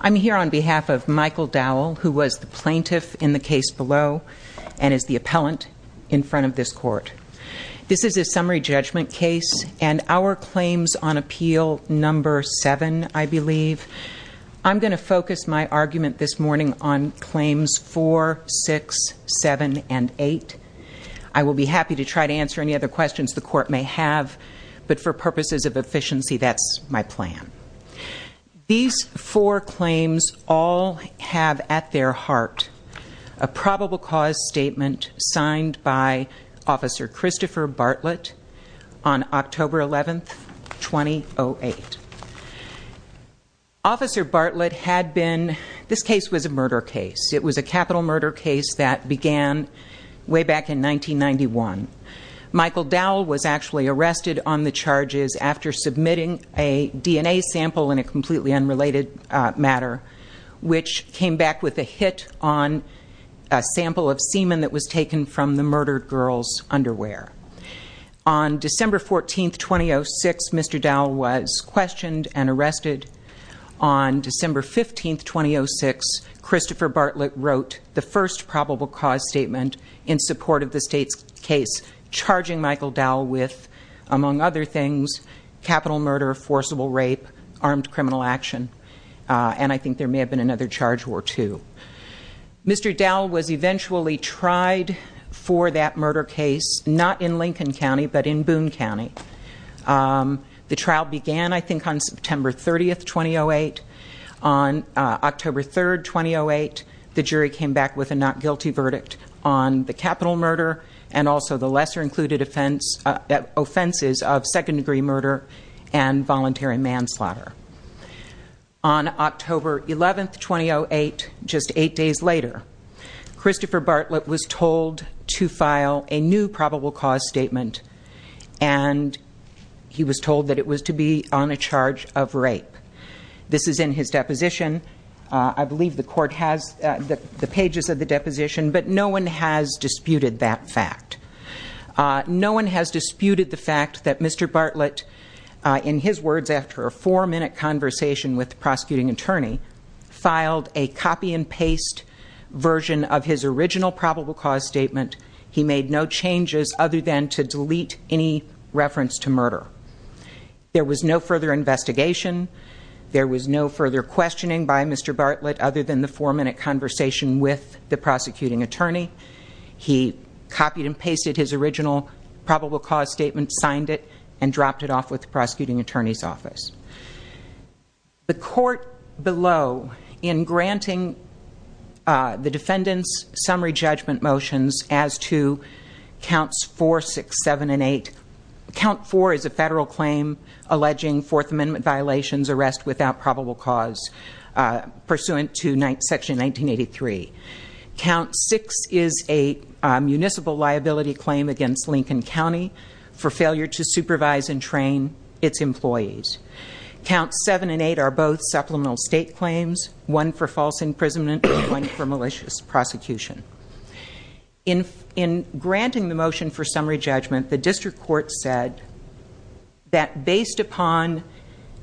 I'm here on behalf of Michael Dowell, who was the plaintiff in the case below and is the appellant in front of this Court. This is a summary judgment case and our claims on Appeal No. 7, I believe. I'm going to focus my argument this morning on Claims 4, 6, 7, and 8. I will be happy to try to answer any other questions the Court may have, but for 4 claims, all have at their heart a probable cause statement signed by Officer Christopher Bartlett on October 11, 2008. Officer Bartlett had been, this case was a murder case. It was a capital murder case that began way back in 1991. Michael Dowell was actually arrested on the charges after submitting a DNA sample in a completely unrelated matter, which came back with a hit on a sample of semen that was taken from the murdered girl's underwear. On December 14, 2006, Mr. Dowell was questioned and arrested. On December 15, 2006, Christopher Bartlett wrote the first probable cause statement in support of the State's case, charging Michael Dowell, among other things, capital murder, forcible rape, armed criminal action, and I think there may have been another charge or two. Mr. Dowell was eventually tried for that murder case, not in Lincoln County, but in Boone County. The trial began, I think, on September 30, 2008. On October 3, 2008, the jury came back with a not guilty verdict on the capital murder and also the lesser-included offenses of second-degree murder and voluntary manslaughter. On October 11, 2008, just eight days later, Christopher Bartlett was told to file a new probable cause statement, and he was told that it was to be on a charge of rape. This is in his deposition. I believe the court has the pages of the deposition, but no one has disputed that fact. No one has disputed the fact that Mr. Bartlett, in his words after a four-minute conversation with the prosecuting attorney, filed a copy-and-paste version of his original probable cause statement. He made no changes other than to delete any reference to murder. There was no further investigation. There was no further questioning by Mr. Bartlett other than the four-minute conversation with the prosecuting attorney. He copied-and-pasted his original probable cause statement, signed it, and dropped it off with the prosecuting attorney's office. The court below, in granting the defendant's summary judgment motions as to counts 4, 6, 7, and 8, count 4 is a federal claim alleging Fourth Amendment violations, arrest without probable cause, pursuant to Section 1983. Count 6 is a municipal liability claim against Lincoln County for failure to supervise and train its employees. Counts 7 and 8 are both supplemental state claims, one for false imprisonment, one for malicious prosecution. In granting the motion for summary judgment, the district court said that based upon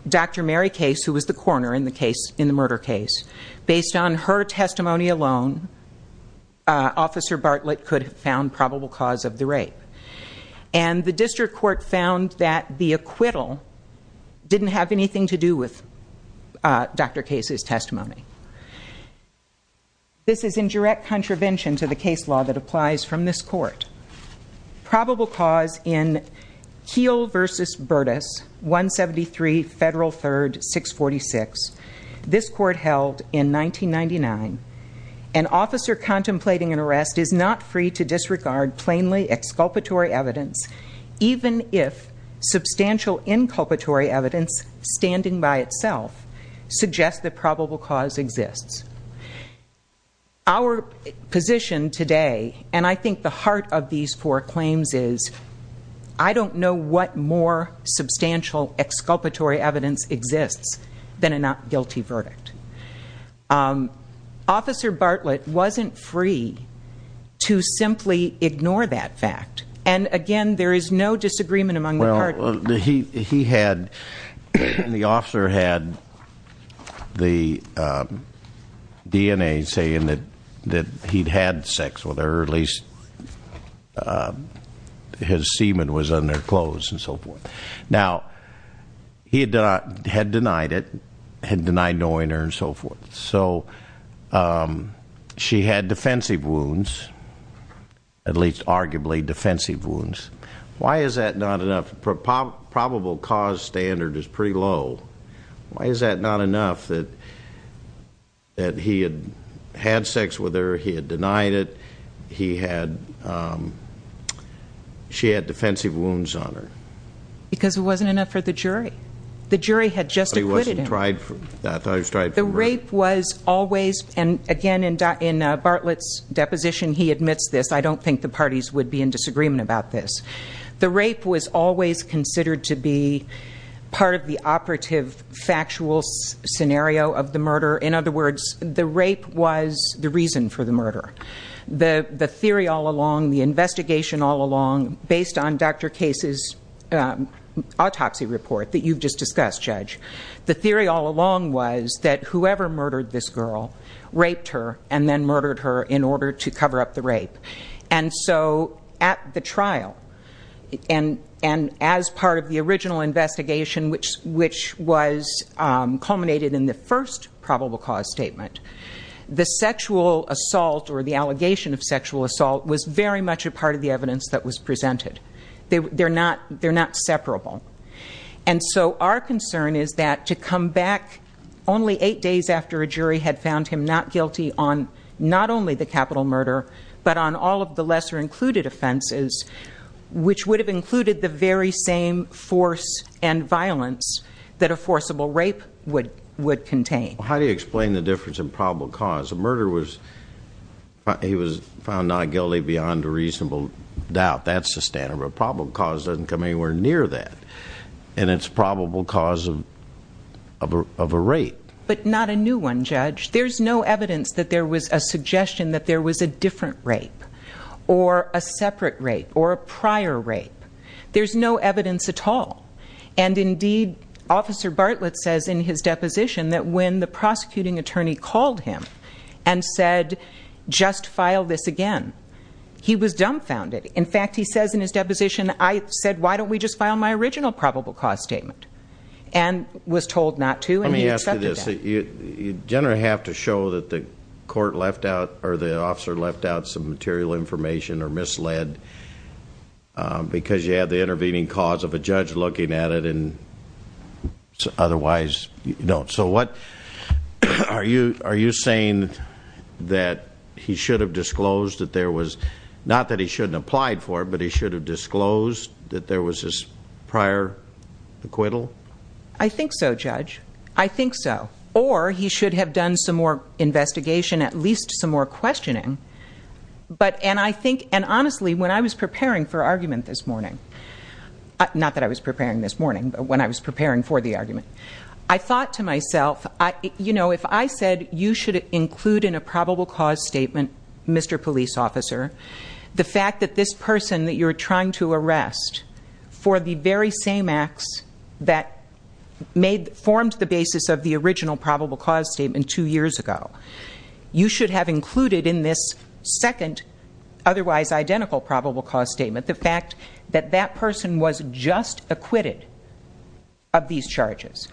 Dr. Mary Case, who was the coroner in the murder case, based on her testimony alone, Officer Bartlett could have found probable cause of the rape. And the district court found that the acquittal didn't have anything to do with Dr. Case's testimony. This is in direct contravention to the case law that applies from this court. Probable cause in Heal v. Burtis, 173 Federal 3rd, 646, this court held in 1999, an officer contemplating an arrest is not free to disregard plainly exculpatory evidence, even if substantial inculpatory evidence standing by itself suggests that probable cause exists. Our position today, and I think the heart of these four claims is, I don't know what more substantial exculpatory evidence exists than a not guilty verdict. Officer Bartlett wasn't free to simply ignore that fact. And again, there is no disagreement among the parties. Well, he had, the officer had the DNA saying that he'd had sex with her the day before at least his semen was on their clothes and so forth. Now, he had denied it, had denied knowing her and so forth. So she had defensive wounds, at least arguably defensive wounds. Why is that not enough? Probable cause standard is pretty low. Why is that not enough that he had had sex with her, he had denied it, he had, she had defensive wounds on her? Because it wasn't enough for the jury. The jury had just acquitted him. But he wasn't tried for, I thought he was tried for rape. The rape was always, and again in Bartlett's deposition he admits this, I don't think the parties would be in disagreement about this. The rape was always considered to be part of the operative factual scenario of the murder. In other words, the rape was the reason for the murder. The theory all along, the investigation all along, based on Dr. Case's autopsy report that you've just discussed, Judge, the theory all along was that whoever murdered this girl raped her and then murdered her in order to cover up the rape. And so at the trial, and as part of the original investigation which was culminated in the first probable cause statement, the sexual assault or the allegation of sexual assault was very much a part of the evidence that was presented. They're not separable. And so our concern is that to come back only eight days after a jury had found him not guilty on not only the capital murder, but on all of the lesser included offenses, which would have included the very same force and violence that a forcible rape would contain. How do you explain the difference in probable cause? A murder was, he was found not guilty beyond a reasonable doubt. That's the standard. But probable cause doesn't come anywhere near that. And it's probable cause of a rape. But not a new one, Judge. There's no evidence that there was a suggestion that there was a different rape, or a separate rape, or a prior rape. There's no evidence at all. And indeed, Officer Bartlett says in his deposition that when the prosecuting attorney called him and said, just file this again, he was dumbfounded. In fact, he says in his deposition, I said, why don't we just file my original probable cause statement? And was told not to, and he accepted that. Let me ask you this. You generally have to show that the court left out, or the officer left out some material information or misled because you have the intervening cause of a judge looking at it, and otherwise, no. So what, are you saying that he should have disclosed that there was, not that he shouldn't applied for, but he should have disclosed that there was this prior acquittal? I think so, Judge. I think so. Or, he should have done some more investigation, at least some more questioning. But, and I think, and honestly, when I was preparing for argument this morning, not that I was preparing this morning, but when I was preparing for the argument, I thought to myself, you know, if I said you should include in a probable cause statement, Mr. Police Officer, the fact that this person that you're trying to arrest, for the very same acts that made, formed the basis of the original probable cause statement two years ago, you should have included in this second, otherwise identical probable cause statement, the fact that that person was just acquitted of these charges.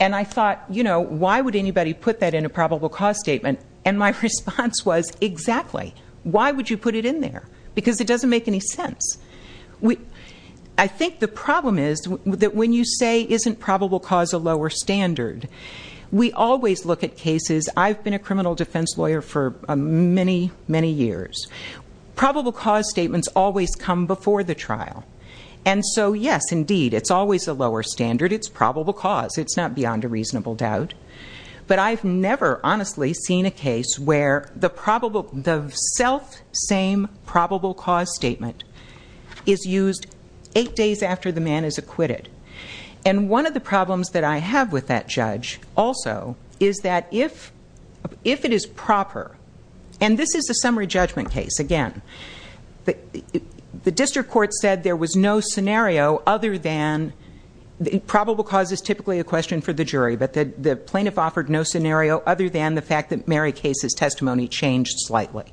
And I thought, you know, why would anybody put that in a probable cause statement? And my response was, exactly. Why would you put it in there? Because it doesn't make any sense. I think the problem is that when you say, isn't probable cause a lower standard, we always look at cases, I've been a criminal defense lawyer for many, many years. Probable cause statements always come before the trial. And so, yes, indeed, it's always a lower standard. It's probable cause. It's not beyond a reasonable doubt. But I've never, honestly, seen a case where the self-same probable cause statement is used eight days after the man is acquitted. And one of the problems that I have with that judge, also, is that if it is proper, and this is a summary judgment case, again, the district court said there was no scenario other than, probable cause is typically a question for the jury, but the plaintiff offered no scenario other than the fact that Mary Case's testimony changed slightly.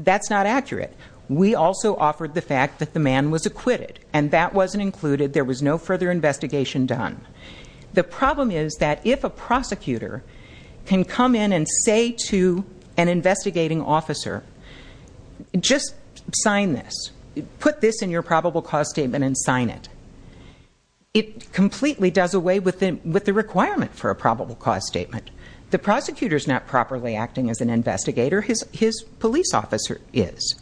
That's not accurate. We also offered the fact that the man was acquitted. And that wasn't included. There was no further investigation done. The problem is that if a prosecutor can come in and say to an investigating officer, just sign this. Put this in your probable cause statement and sign it. It completely does away with the requirement for a probable cause statement. The prosecutor's not properly acting as an investigator. His police officer is.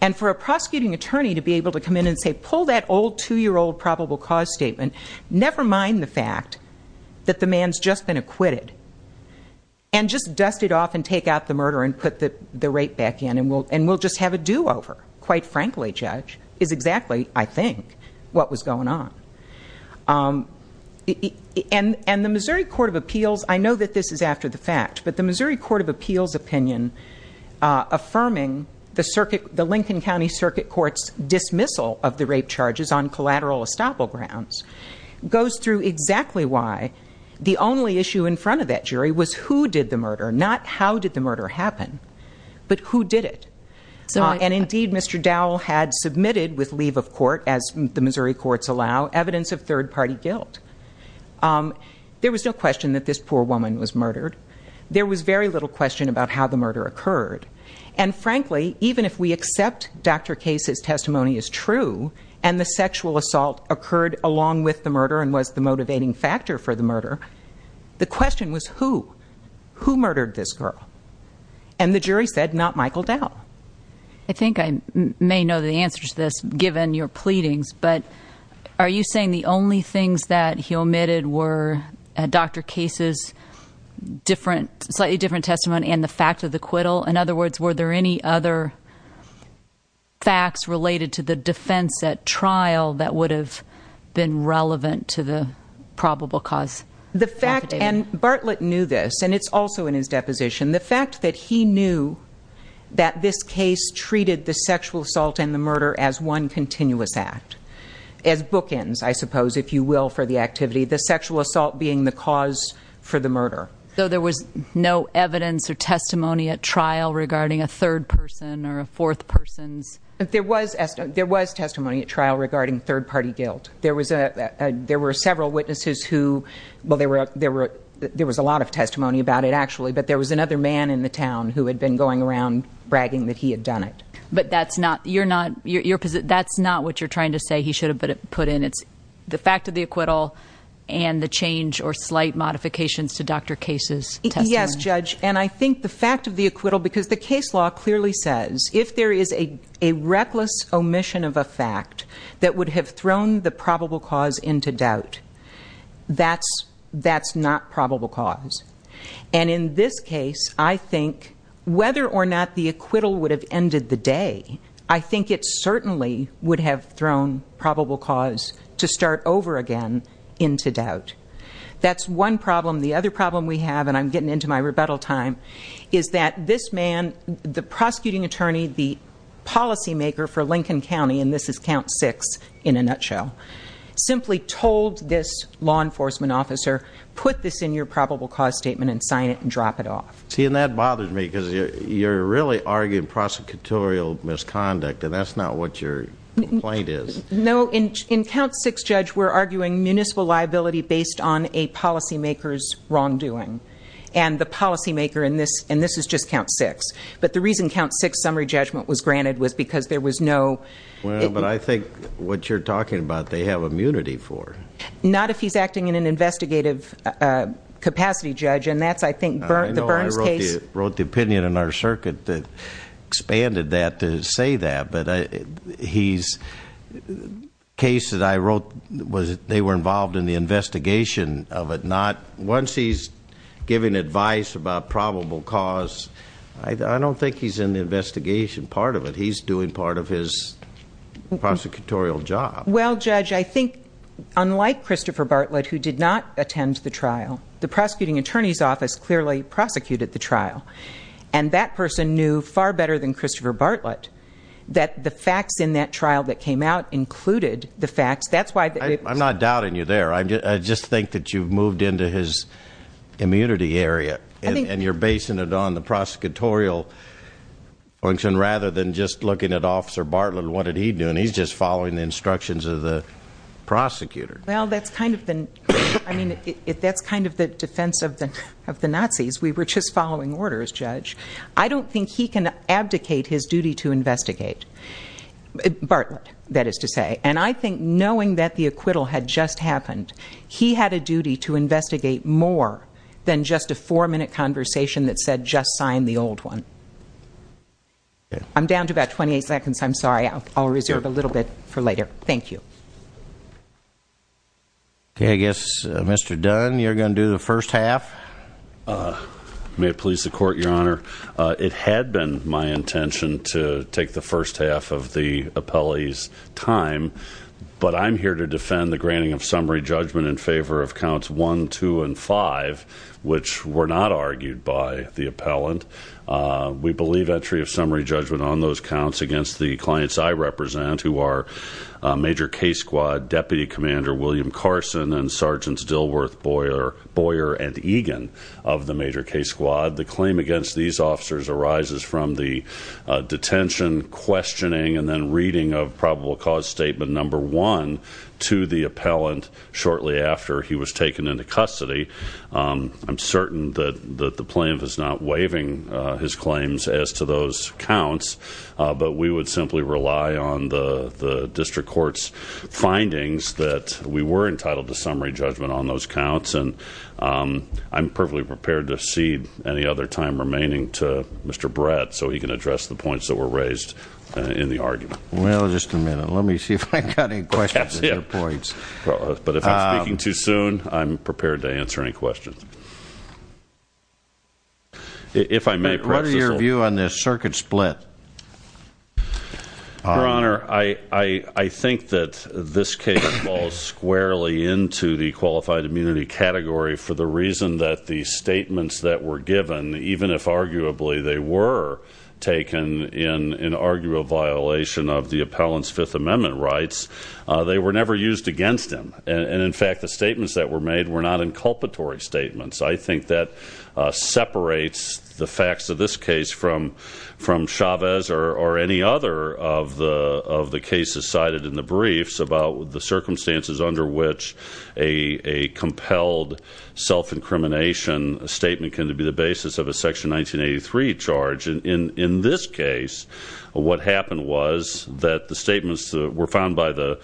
And for a prosecuting attorney to be able to come in and say, pull that old two-year-old probable cause statement, never mind the fact that the man's just been acquitted, and just dust it off and take out the murder and put the rape back in, and we'll just have a do-over, quite frankly, Judge, is exactly, I think, what was going on. And the Missouri Court of Appeals, I know that this is after the fact, but the Missouri Court of Appeals opinion affirming the Lincoln County Circuit Court's dismissal of the rape charges on collateral estoppel grounds goes through exactly why the only issue in front of that jury was who did the murder, not how did the murder happen, but who did it. And there was no evidence of third-party guilt. There was no question that this poor woman was murdered. There was very little question about how the murder occurred. And frankly, even if we accept Dr. Case's testimony as true, and the sexual assault occurred along with the murder and was the motivating factor for the murder, the question was who? Who murdered this girl? And the jury said, not Michael Dow. I think I may know the answer to this, given your pleadings, but are you saying the only things that he omitted were Dr. Case's different, slightly different testimony and the fact of the acquittal? In other words, were there any other facts related to the defense at trial that would have been relevant to the probable cause affidavit? The fact, and Bartlett knew this, and it's also in his deposition, the fact that he knew that this case treated the sexual assault and the murder as one continuous act, as bookends, I suppose, if you will, for the activity, the sexual assault being the cause for the murder. So there was no evidence or testimony at trial regarding a third person or a fourth person's? There was testimony at trial regarding third-party guilt. There were several witnesses who, well, there was a lot of testimony about it, actually, but there was another man in the town who had been going around bragging that he had done it. But that's not, you're not, that's not what you're trying to say he should have put in. It's the fact of the acquittal and the change or slight modifications to Dr. Case's testimony. Yes, Judge, and I think the fact of the acquittal, because the case law clearly says if there is a reckless omission of a fact that would have thrown the probable cause into doubt, that's not probable cause. And in this case, I think whether or not the acquittal would have ended the day, I think it certainly would have thrown probable cause to start over again into doubt. That's one problem. The other problem we have, and I'm getting into my rebuttal time, is that this man, the prosecuting attorney, the policymaker for Lincoln County, and this is count six in a nutshell, simply told this law enforcement officer, put this in your probable cause statement and sign it and drop it off. See, and that bothers me, because you're really arguing prosecutorial misconduct, and that's not what your complaint is. No, in count six, Judge, we're arguing municipal liability based on a policymaker's wrongdoing. And the policymaker in this, and this is just count six, but the reason count six summary judgment was granted was because there was no... Well, but I think what you're talking about, they have immunity for. Not if he's acting in an investigative capacity, Judge, and that's, I think, the Burns case. I know I wrote the opinion in our circuit that expanded that to say that, but he's... The case that I wrote, they were involved in the investigation of it, not... Once he's giving advice about probable cause, I don't think he's in the investigation part of it. He's doing part of his prosecutorial job. Well, Judge, I think, unlike Christopher Bartlett, who did not attend the trial, the prosecuting attorney's office clearly prosecuted the trial, and that person knew far better than Christopher Bartlett that the facts in that trial that came out included the facts. That's why... I'm not doubting you there. I just think that you've moved into his immunity area, and you're basing it on the prosecutorial function, rather than just looking at Officer Bartlett and what did he do, and he's just following the instructions of the prosecutor. Well, that's kind of the... I mean, that's kind of the defense of the Nazis. We were just following orders, Judge. I don't think he can abdicate his duty to investigate. Bartlett, that is to say. And I think knowing that the acquittal had just happened, he had a duty to investigate more than just a four-minute conversation that said, just sign the old one. I'm down to about 28 seconds. I'm sorry. I'll reserve a little bit for later. Thank you. Okay. I guess, Mr. Dunn, you're going to do the first half. May it please the Court, Your Honor. It had been my intention to take the first half of the appellee's time, but I'm here to defend the granting of summary judgment in favor of counts one, two, and five, which were not argued by the appellant. We believe entry of summary judgment on those counts against the clients I represent, who are Major K-Squad Deputy Commander William Carson and Sergeants Dilworth, Boyer, and Egan of the Major K-Squad. The claim against these officers arises from the detention, questioning, and then reading of probable cause statement number one to the appellant shortly after he was taken into custody. I'm certain that the plaintiff is not waiving his claims as to those counts, but we would simply rely on the district court's findings that we were entitled to summary judgment on those counts. And I'm perfectly prepared to cede any other time remaining to Mr. Brett so he can address the points that were raised in the argument. Well, just a minute. Let me see if I've got any questions or points. But if I'm speaking too soon, I'm prepared to answer any questions. If I may preface this. What is your view on this circuit split? Your Honor, I, I, I think that this case falls squarely into the qualified immunity category for the reason that the statements that were given, even if arguably they were taken in an arguable violation of the appellant's Fifth Amendment rights, they were never used against him. And in fact, the statements that were made were not inculpatory statements. I think that separates the facts of this case from, from Chavez or, or any other of the, of the cases cited in the briefs about the circumstances under which a, a compelled self-incrimination statement can be the basis of a Section 1983 charge. And in, in this case, what happened was that the statements were found by the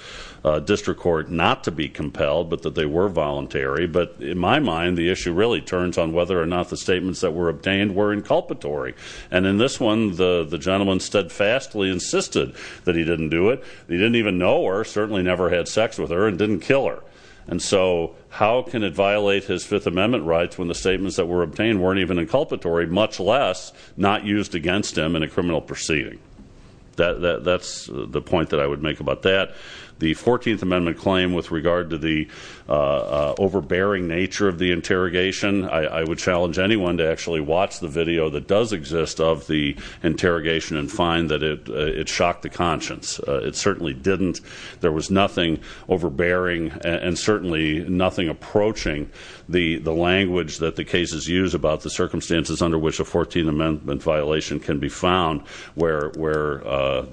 District Court not to be compelled, but that they were voluntary. But in my mind, the issue really turns on whether or not the statements that were obtained were inculpatory. And in this one, the, the gentleman steadfastly insisted that he didn't do it. He didn't even know her, certainly never had sex with her, and didn't kill her. And so, how can it violate his Fifth Amendment rights when the statements that were obtained weren't even inculpatory, much less not used against him in a criminal proceeding? That, that, that's the point that I would make about that. The Fourteenth Amendment claim with regard to the overbearing nature of the interrogation, I, I would challenge anyone to actually watch the video that does exist of the interrogation and find that it, overbearing, and, and certainly nothing approaching the, the language that the cases use about the circumstances under which a Fourteenth Amendment violation can be found where, where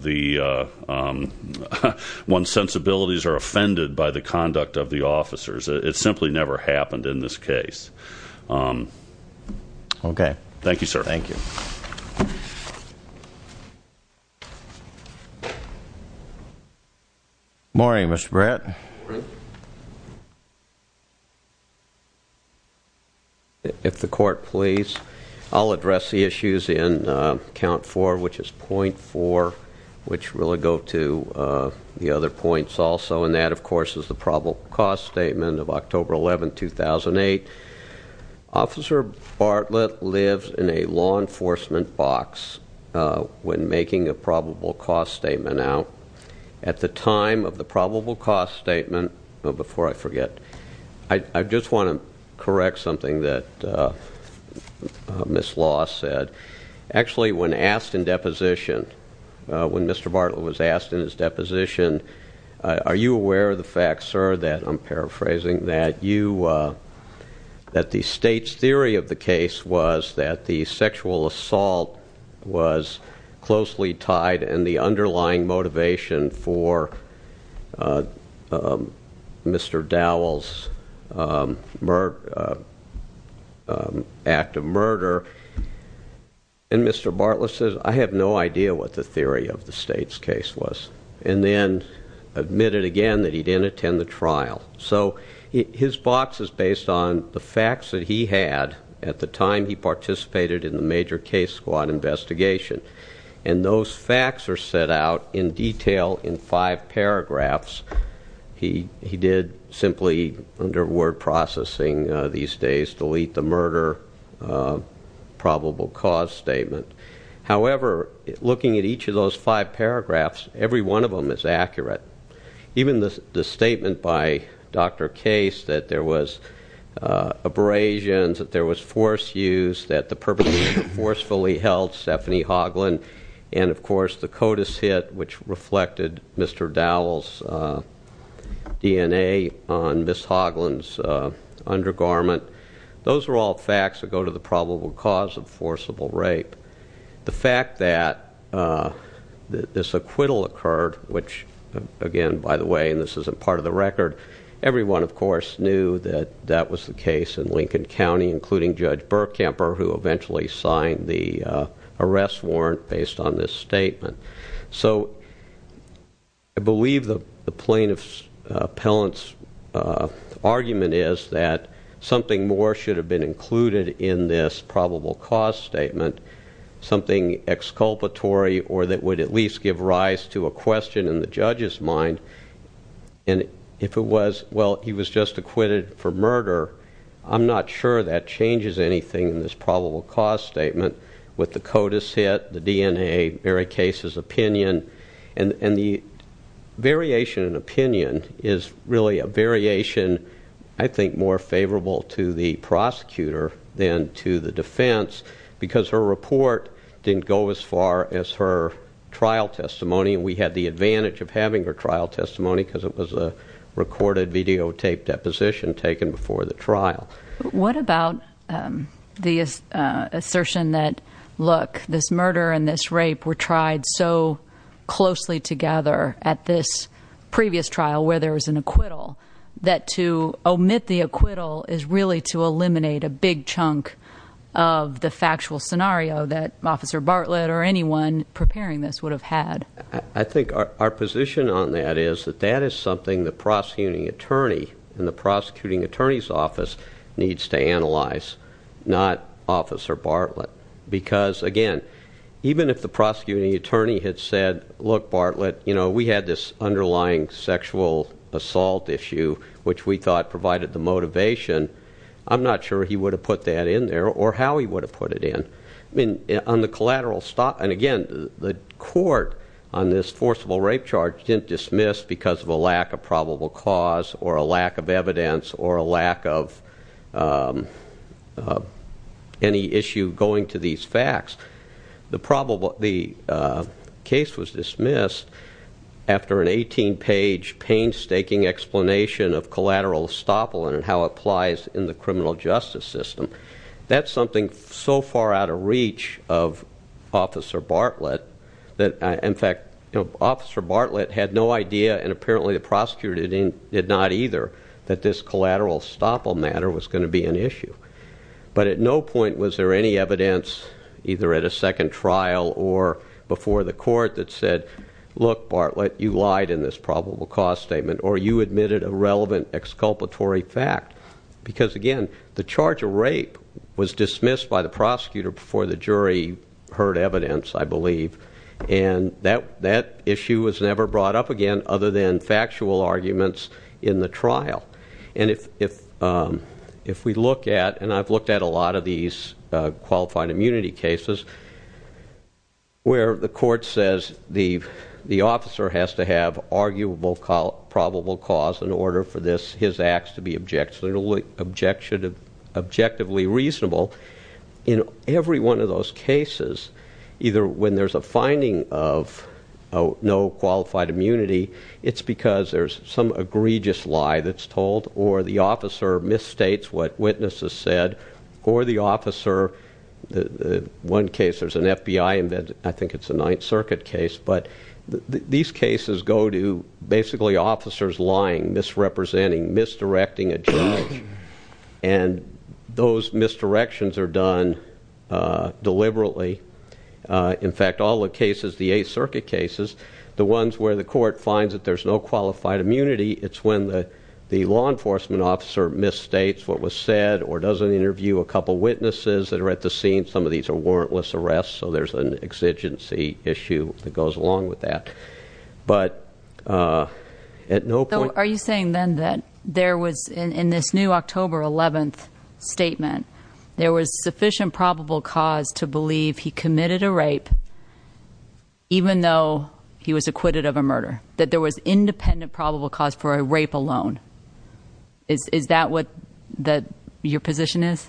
the, one's sensibilities are offended by the conduct of the officers. It, it simply never happened in this case. Okay. Thank you, sir. Thank you. Morning, Mr. Brett. Morning. If the Court please. I'll address the issues in count four, which is point four, which really go to the other points also, and that, of course, is the probable cause statement of October 11, 2008. Officer Bartlett lives in a law enforcement box when making a probable cause statement out. At the time of the probable cause statement, before I forget, I, I just want to correct something that Ms. Law said. Actually, when asked in deposition, when Mr. Bartlett was asked in his deposition, are you aware of the fact, sir, that, I'm paraphrasing, that you, that the State's theory of the case was that the sexual assault was closely tied and the underlying motivation for Mr. Dowell's murder, act of murder, and Mr. Bartlett says, I have no idea what the theory of the State's was, and then admitted again that he didn't attend the trial. So his box is based on the facts that he had at the time he participated in the major case squad investigation, and those facts are set out in detail in five paragraphs. He, he did simply, under word processing these days, delete the murder probable cause statement. However, looking at each of those five paragraphs, every one of them is accurate. Even the statement by Dr. Case that there was abrasions, that there was force use, that the perpetrator forcefully held Stephanie Hoagland, and of course the CODIS hit which reflected Mr. Dowell's DNA on Ms. Hoagland's undergarment. Those are all facts that go to the probable cause of forcible this acquittal occurred, which again, by the way, and this isn't part of the record, everyone of course knew that that was the case in Lincoln County, including Judge Burkamper, who eventually signed the arrest warrant based on this statement. So I believe the plaintiff's, the appellant's argument is that something more should have been included in this probable cause statement, something exculpatory or that would at least give rise to a question in the judge's mind, and if it was, well, he was just acquitted for murder, I'm not sure that changes anything in this probable cause statement with the CODIS hit, the DNA, Barry Case's opinion, and, and the variation in opinion is really a variation, I think, more favorable to the prosecutor than to the defense because her report didn't go as far as her trial testimony, and we had the advantage of having her trial testimony because it was a recorded videotaped deposition taken before the trial. What about the assertion that, look, this murder and this rape were tried so closely together at this previous trial where there was an acquittal, that to omit the acquittal is really to eliminate a big chunk of the factual scenario that Officer Bartlett or anyone preparing this would have had? I think our position on that is that that is something the prosecuting attorney and the prosecuting attorney's office needs to analyze, not Officer Bartlett, because, again, even if the prosecuting attorney had said, look, Bartlett, you know, we had this underlying sexual assault issue which we thought provided the motivation, I'm not sure he would have put that in there or how he would have put it in. I mean, on the collateral, and again, the court on this forcible rape charge didn't dismiss because of a lack of probable cause or a lack of evidence or a lack of any issue going to these of collateral estoppel and how it applies in the criminal justice system. That's something so far out of reach of Officer Bartlett that, in fact, Officer Bartlett had no idea, and apparently the prosecutor did not either, that this collateral estoppel matter was going to be an issue. But at no point was there any evidence, either at a you admitted a relevant exculpatory fact. Because, again, the charge of rape was dismissed by the prosecutor before the jury heard evidence, I believe, and that issue was never brought up again other than factual arguments in the trial. And if we look at, and I've looked at a lot of these qualified immunity cases, where the court says the officer has to have an arguable probable cause in order for his acts to be objectively reasonable, in every one of those cases, either when there's a finding of no qualified immunity, it's because there's some egregious lie that's told, or the officer misstates what witnesses said, or the officer, one case there's an FBI, I think it's a Ninth Circuit case, but these cases go to basically officers lying, misrepresenting, misdirecting a judge, and those misdirections are done deliberately. In fact, all the cases, the Eighth Circuit cases, the ones where the court finds that there's no qualified immunity, it's when the law enforcement officer misstates what was said, or doesn't interview a couple witnesses that are at the scene. Some of these are warrantless arrests, so there's an exigency issue that goes along with that. But at no point- Are you saying then that there was, in this new October 11th statement, there was sufficient probable cause to believe he committed a rape even though he was acquitted of a murder? That there was independent probable cause for a rape alone? Is that what your position is?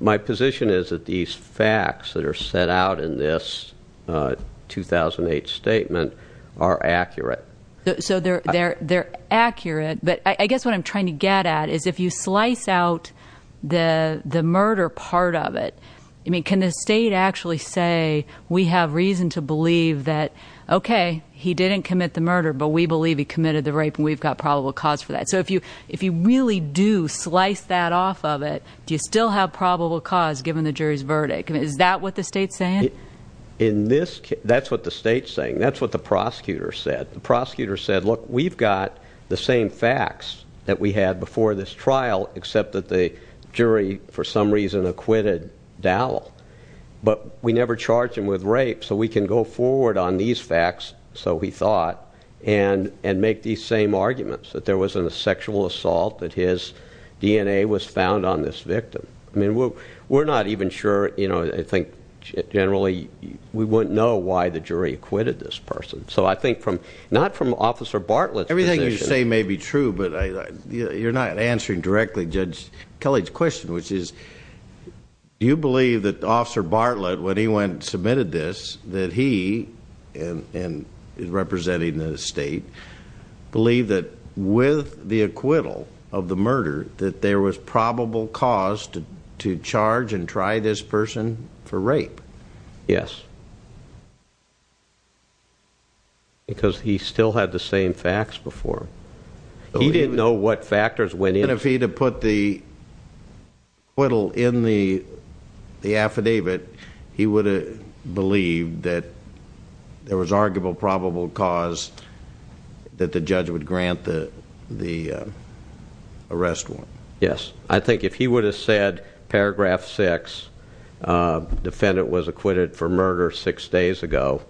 My position is that these facts that are set out in this 2008 statement are accurate. So they're accurate, but I guess what I'm trying to get at is if you slice out the murder part of it, can the state actually say, we have reason to believe that, okay, he didn't commit the murder, but we believe he committed the rape and we've got probable cause for that? So if you really do slice that off of it, do you still have probable cause given the jury's verdict? Is that what the state's saying? That's what the state's saying. That's what the prosecutor said. Look, we've got the same facts that we had before this trial, except that the jury, for some reason, acquitted Dowell. But we never charged him with rape, so we can go forward on these facts, so he thought, and make these same arguments that there wasn't a sexual assault, that his DNA was found on this victim. I mean, we're not even sure, I think, generally, we wouldn't know why the jury acquitted this person. So I think not from Officer Bartlett's position. Everything you say may be true, but you're not answering directly Judge Kelly's question, which is, do you believe that Officer Bartlett, when he went and submitted this, that he, representing the state, believed that with the acquittal of the murder that there was probable cause to charge and try this person for rape? Yes. Because he still had the same facts before. He didn't know what factors went in. And if he'd have put the acquittal in the affidavit, he would have believed that there was arguable, probable cause that the judge would grant the arrest warrant. Yes. I think if he would have said, paragraph six, defendant was acquitted for murder six days ago,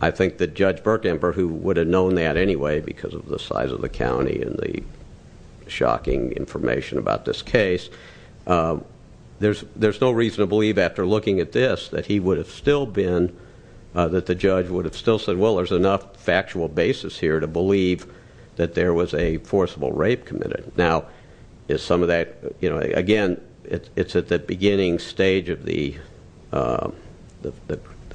I think that Judge Burkenber, who would have known that anyway because of the size of the county and the shocking information about this case, there's no reason to believe, after looking at this, that he would have still been, that the judge would have still said, well, there's enough factual basis here to believe that there was a forcible rape committed. Now, is some of that, you know, again, it's at the beginning stage of the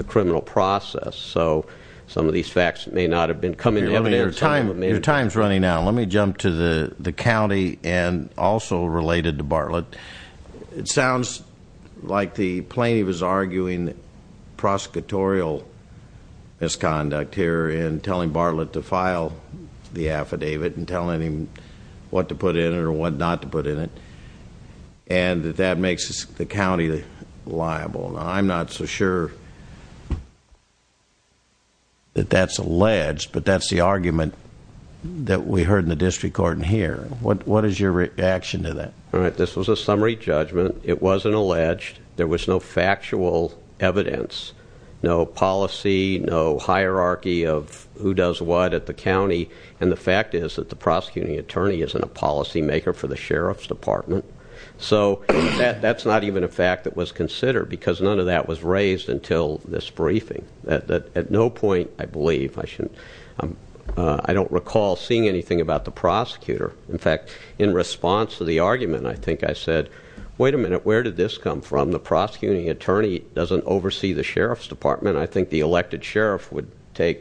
criminal process. So some of these facts may not have been coming to him at any time. Your time's running out. Let me jump to the county and also related to Bartlett. It sounds like the plaintiff is arguing prosecutorial misconduct here in telling Bartlett to file the affidavit and telling him what to put in it or what not to put in it, and that that makes the county liable. Now, I'm not so sure that that's alleged, but that's the argument that we heard in the district court in here. What is your reaction to that? All right. This was a summary judgment. It wasn't alleged. There was no factual evidence, no policy, no hierarchy of who does what at the county. And the fact is that the prosecuting attorney isn't a policymaker for the sheriff's department. So that's not even a fact that was considered because none of that was raised until this briefing. At no point, I believe, I don't recall seeing anything about the prosecutor. In fact, in response to the argument, I think I said, wait a minute, where did this come from? The prosecuting attorney doesn't oversee the sheriff's department. I think the elected sheriff would take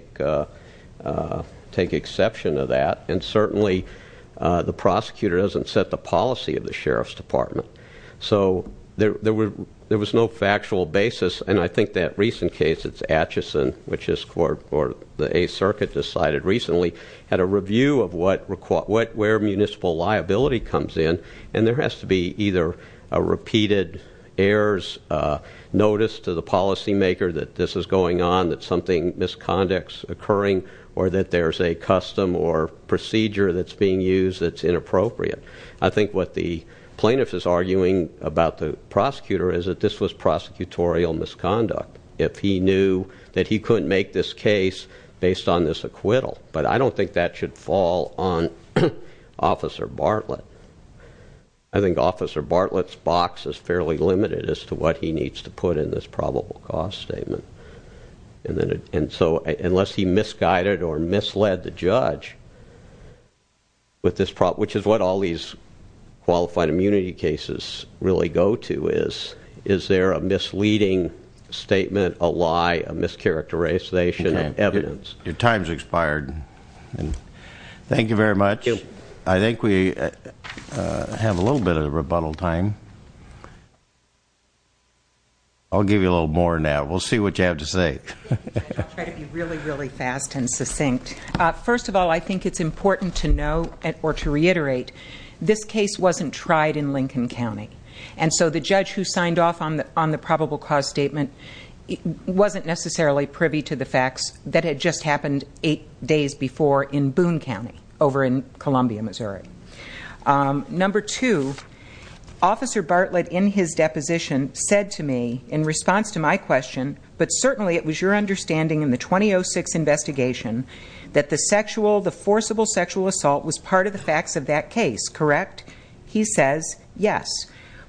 exception to that. And certainly the prosecutor doesn't set the policy of the sheriff's department. So there was no factual basis. And I think that recent case, it's Atchison, which the 8th Circuit decided recently, had a review of where municipal liability comes in, and there has to be either a repeated heirs notice to the policymaker that this is going on, that something, misconduct's occurring, or that there's a custom or procedure that's being used that's inappropriate. I think what the plaintiff is arguing about the prosecutor is that this was prosecutorial misconduct. If he knew that he couldn't make this case based on this acquittal. But I don't think that should fall on Officer Bartlett. I think Officer Bartlett's box is fairly limited as to what he needs to put in this probable cause statement. And so unless he misguided or misled the judge, which is what all these qualified immunity cases really go to, is there a misleading statement, a lie, a mischaracterization of evidence? Your time's expired. Thank you very much. I think we have a little bit of rebuttal time. I'll give you a little more now. We'll see what you have to say. I'll try to be really, really fast and succinct. First of all, I think it's important to know, or to reiterate, this case wasn't tried in Lincoln County. And so the judge who signed off on the probable cause statement wasn't necessarily privy to the facts that had just happened eight days before in Boone County over in Columbia, Missouri. Number two, Officer Bartlett in his deposition said to me in response to my question, but certainly it was your understanding in the 2006 investigation that the sexual, the forcible sexual assault was part of the facts of that case, correct? He says, yes.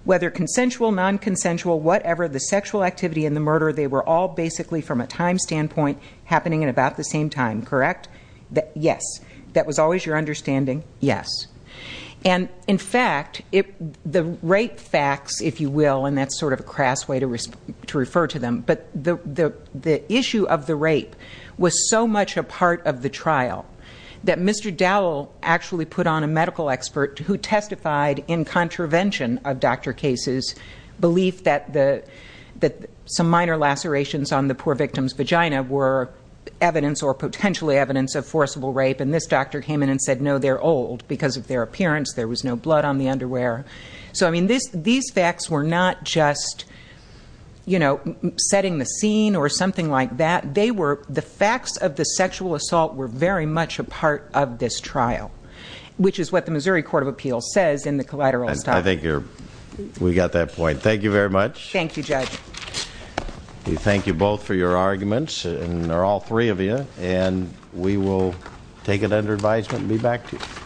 Whether consensual, non-consensual, whatever, the sexual activity and the murder, they were all basically from a time standpoint happening at about the same time, correct? Yes. That was always your understanding? Yes. And, in fact, the rape facts, if you will, and that's sort of a crass way to refer to them, but the issue of the rape was so much a part of the trial that Mr. Dowell actually put on a medical expert who testified in contravention of Dr. Case's belief that some minor lacerations on the poor victim's vagina were evidence or potentially evidence of forcible rape, and this doctor came in and said, no, they're old because of their appearance. There was no blood on the underwear. So, I mean, these facts were not just, you know, setting the scene or something like that. They were, the facts of the sexual assault were very much a part of this trial, which is what the Missouri Court of Appeals says in the collateral assault. I think we got that point. Thank you very much. Thank you, Judge. We thank you both for your arguments, and there are all three of you, and we will take it under advisement and be back to you.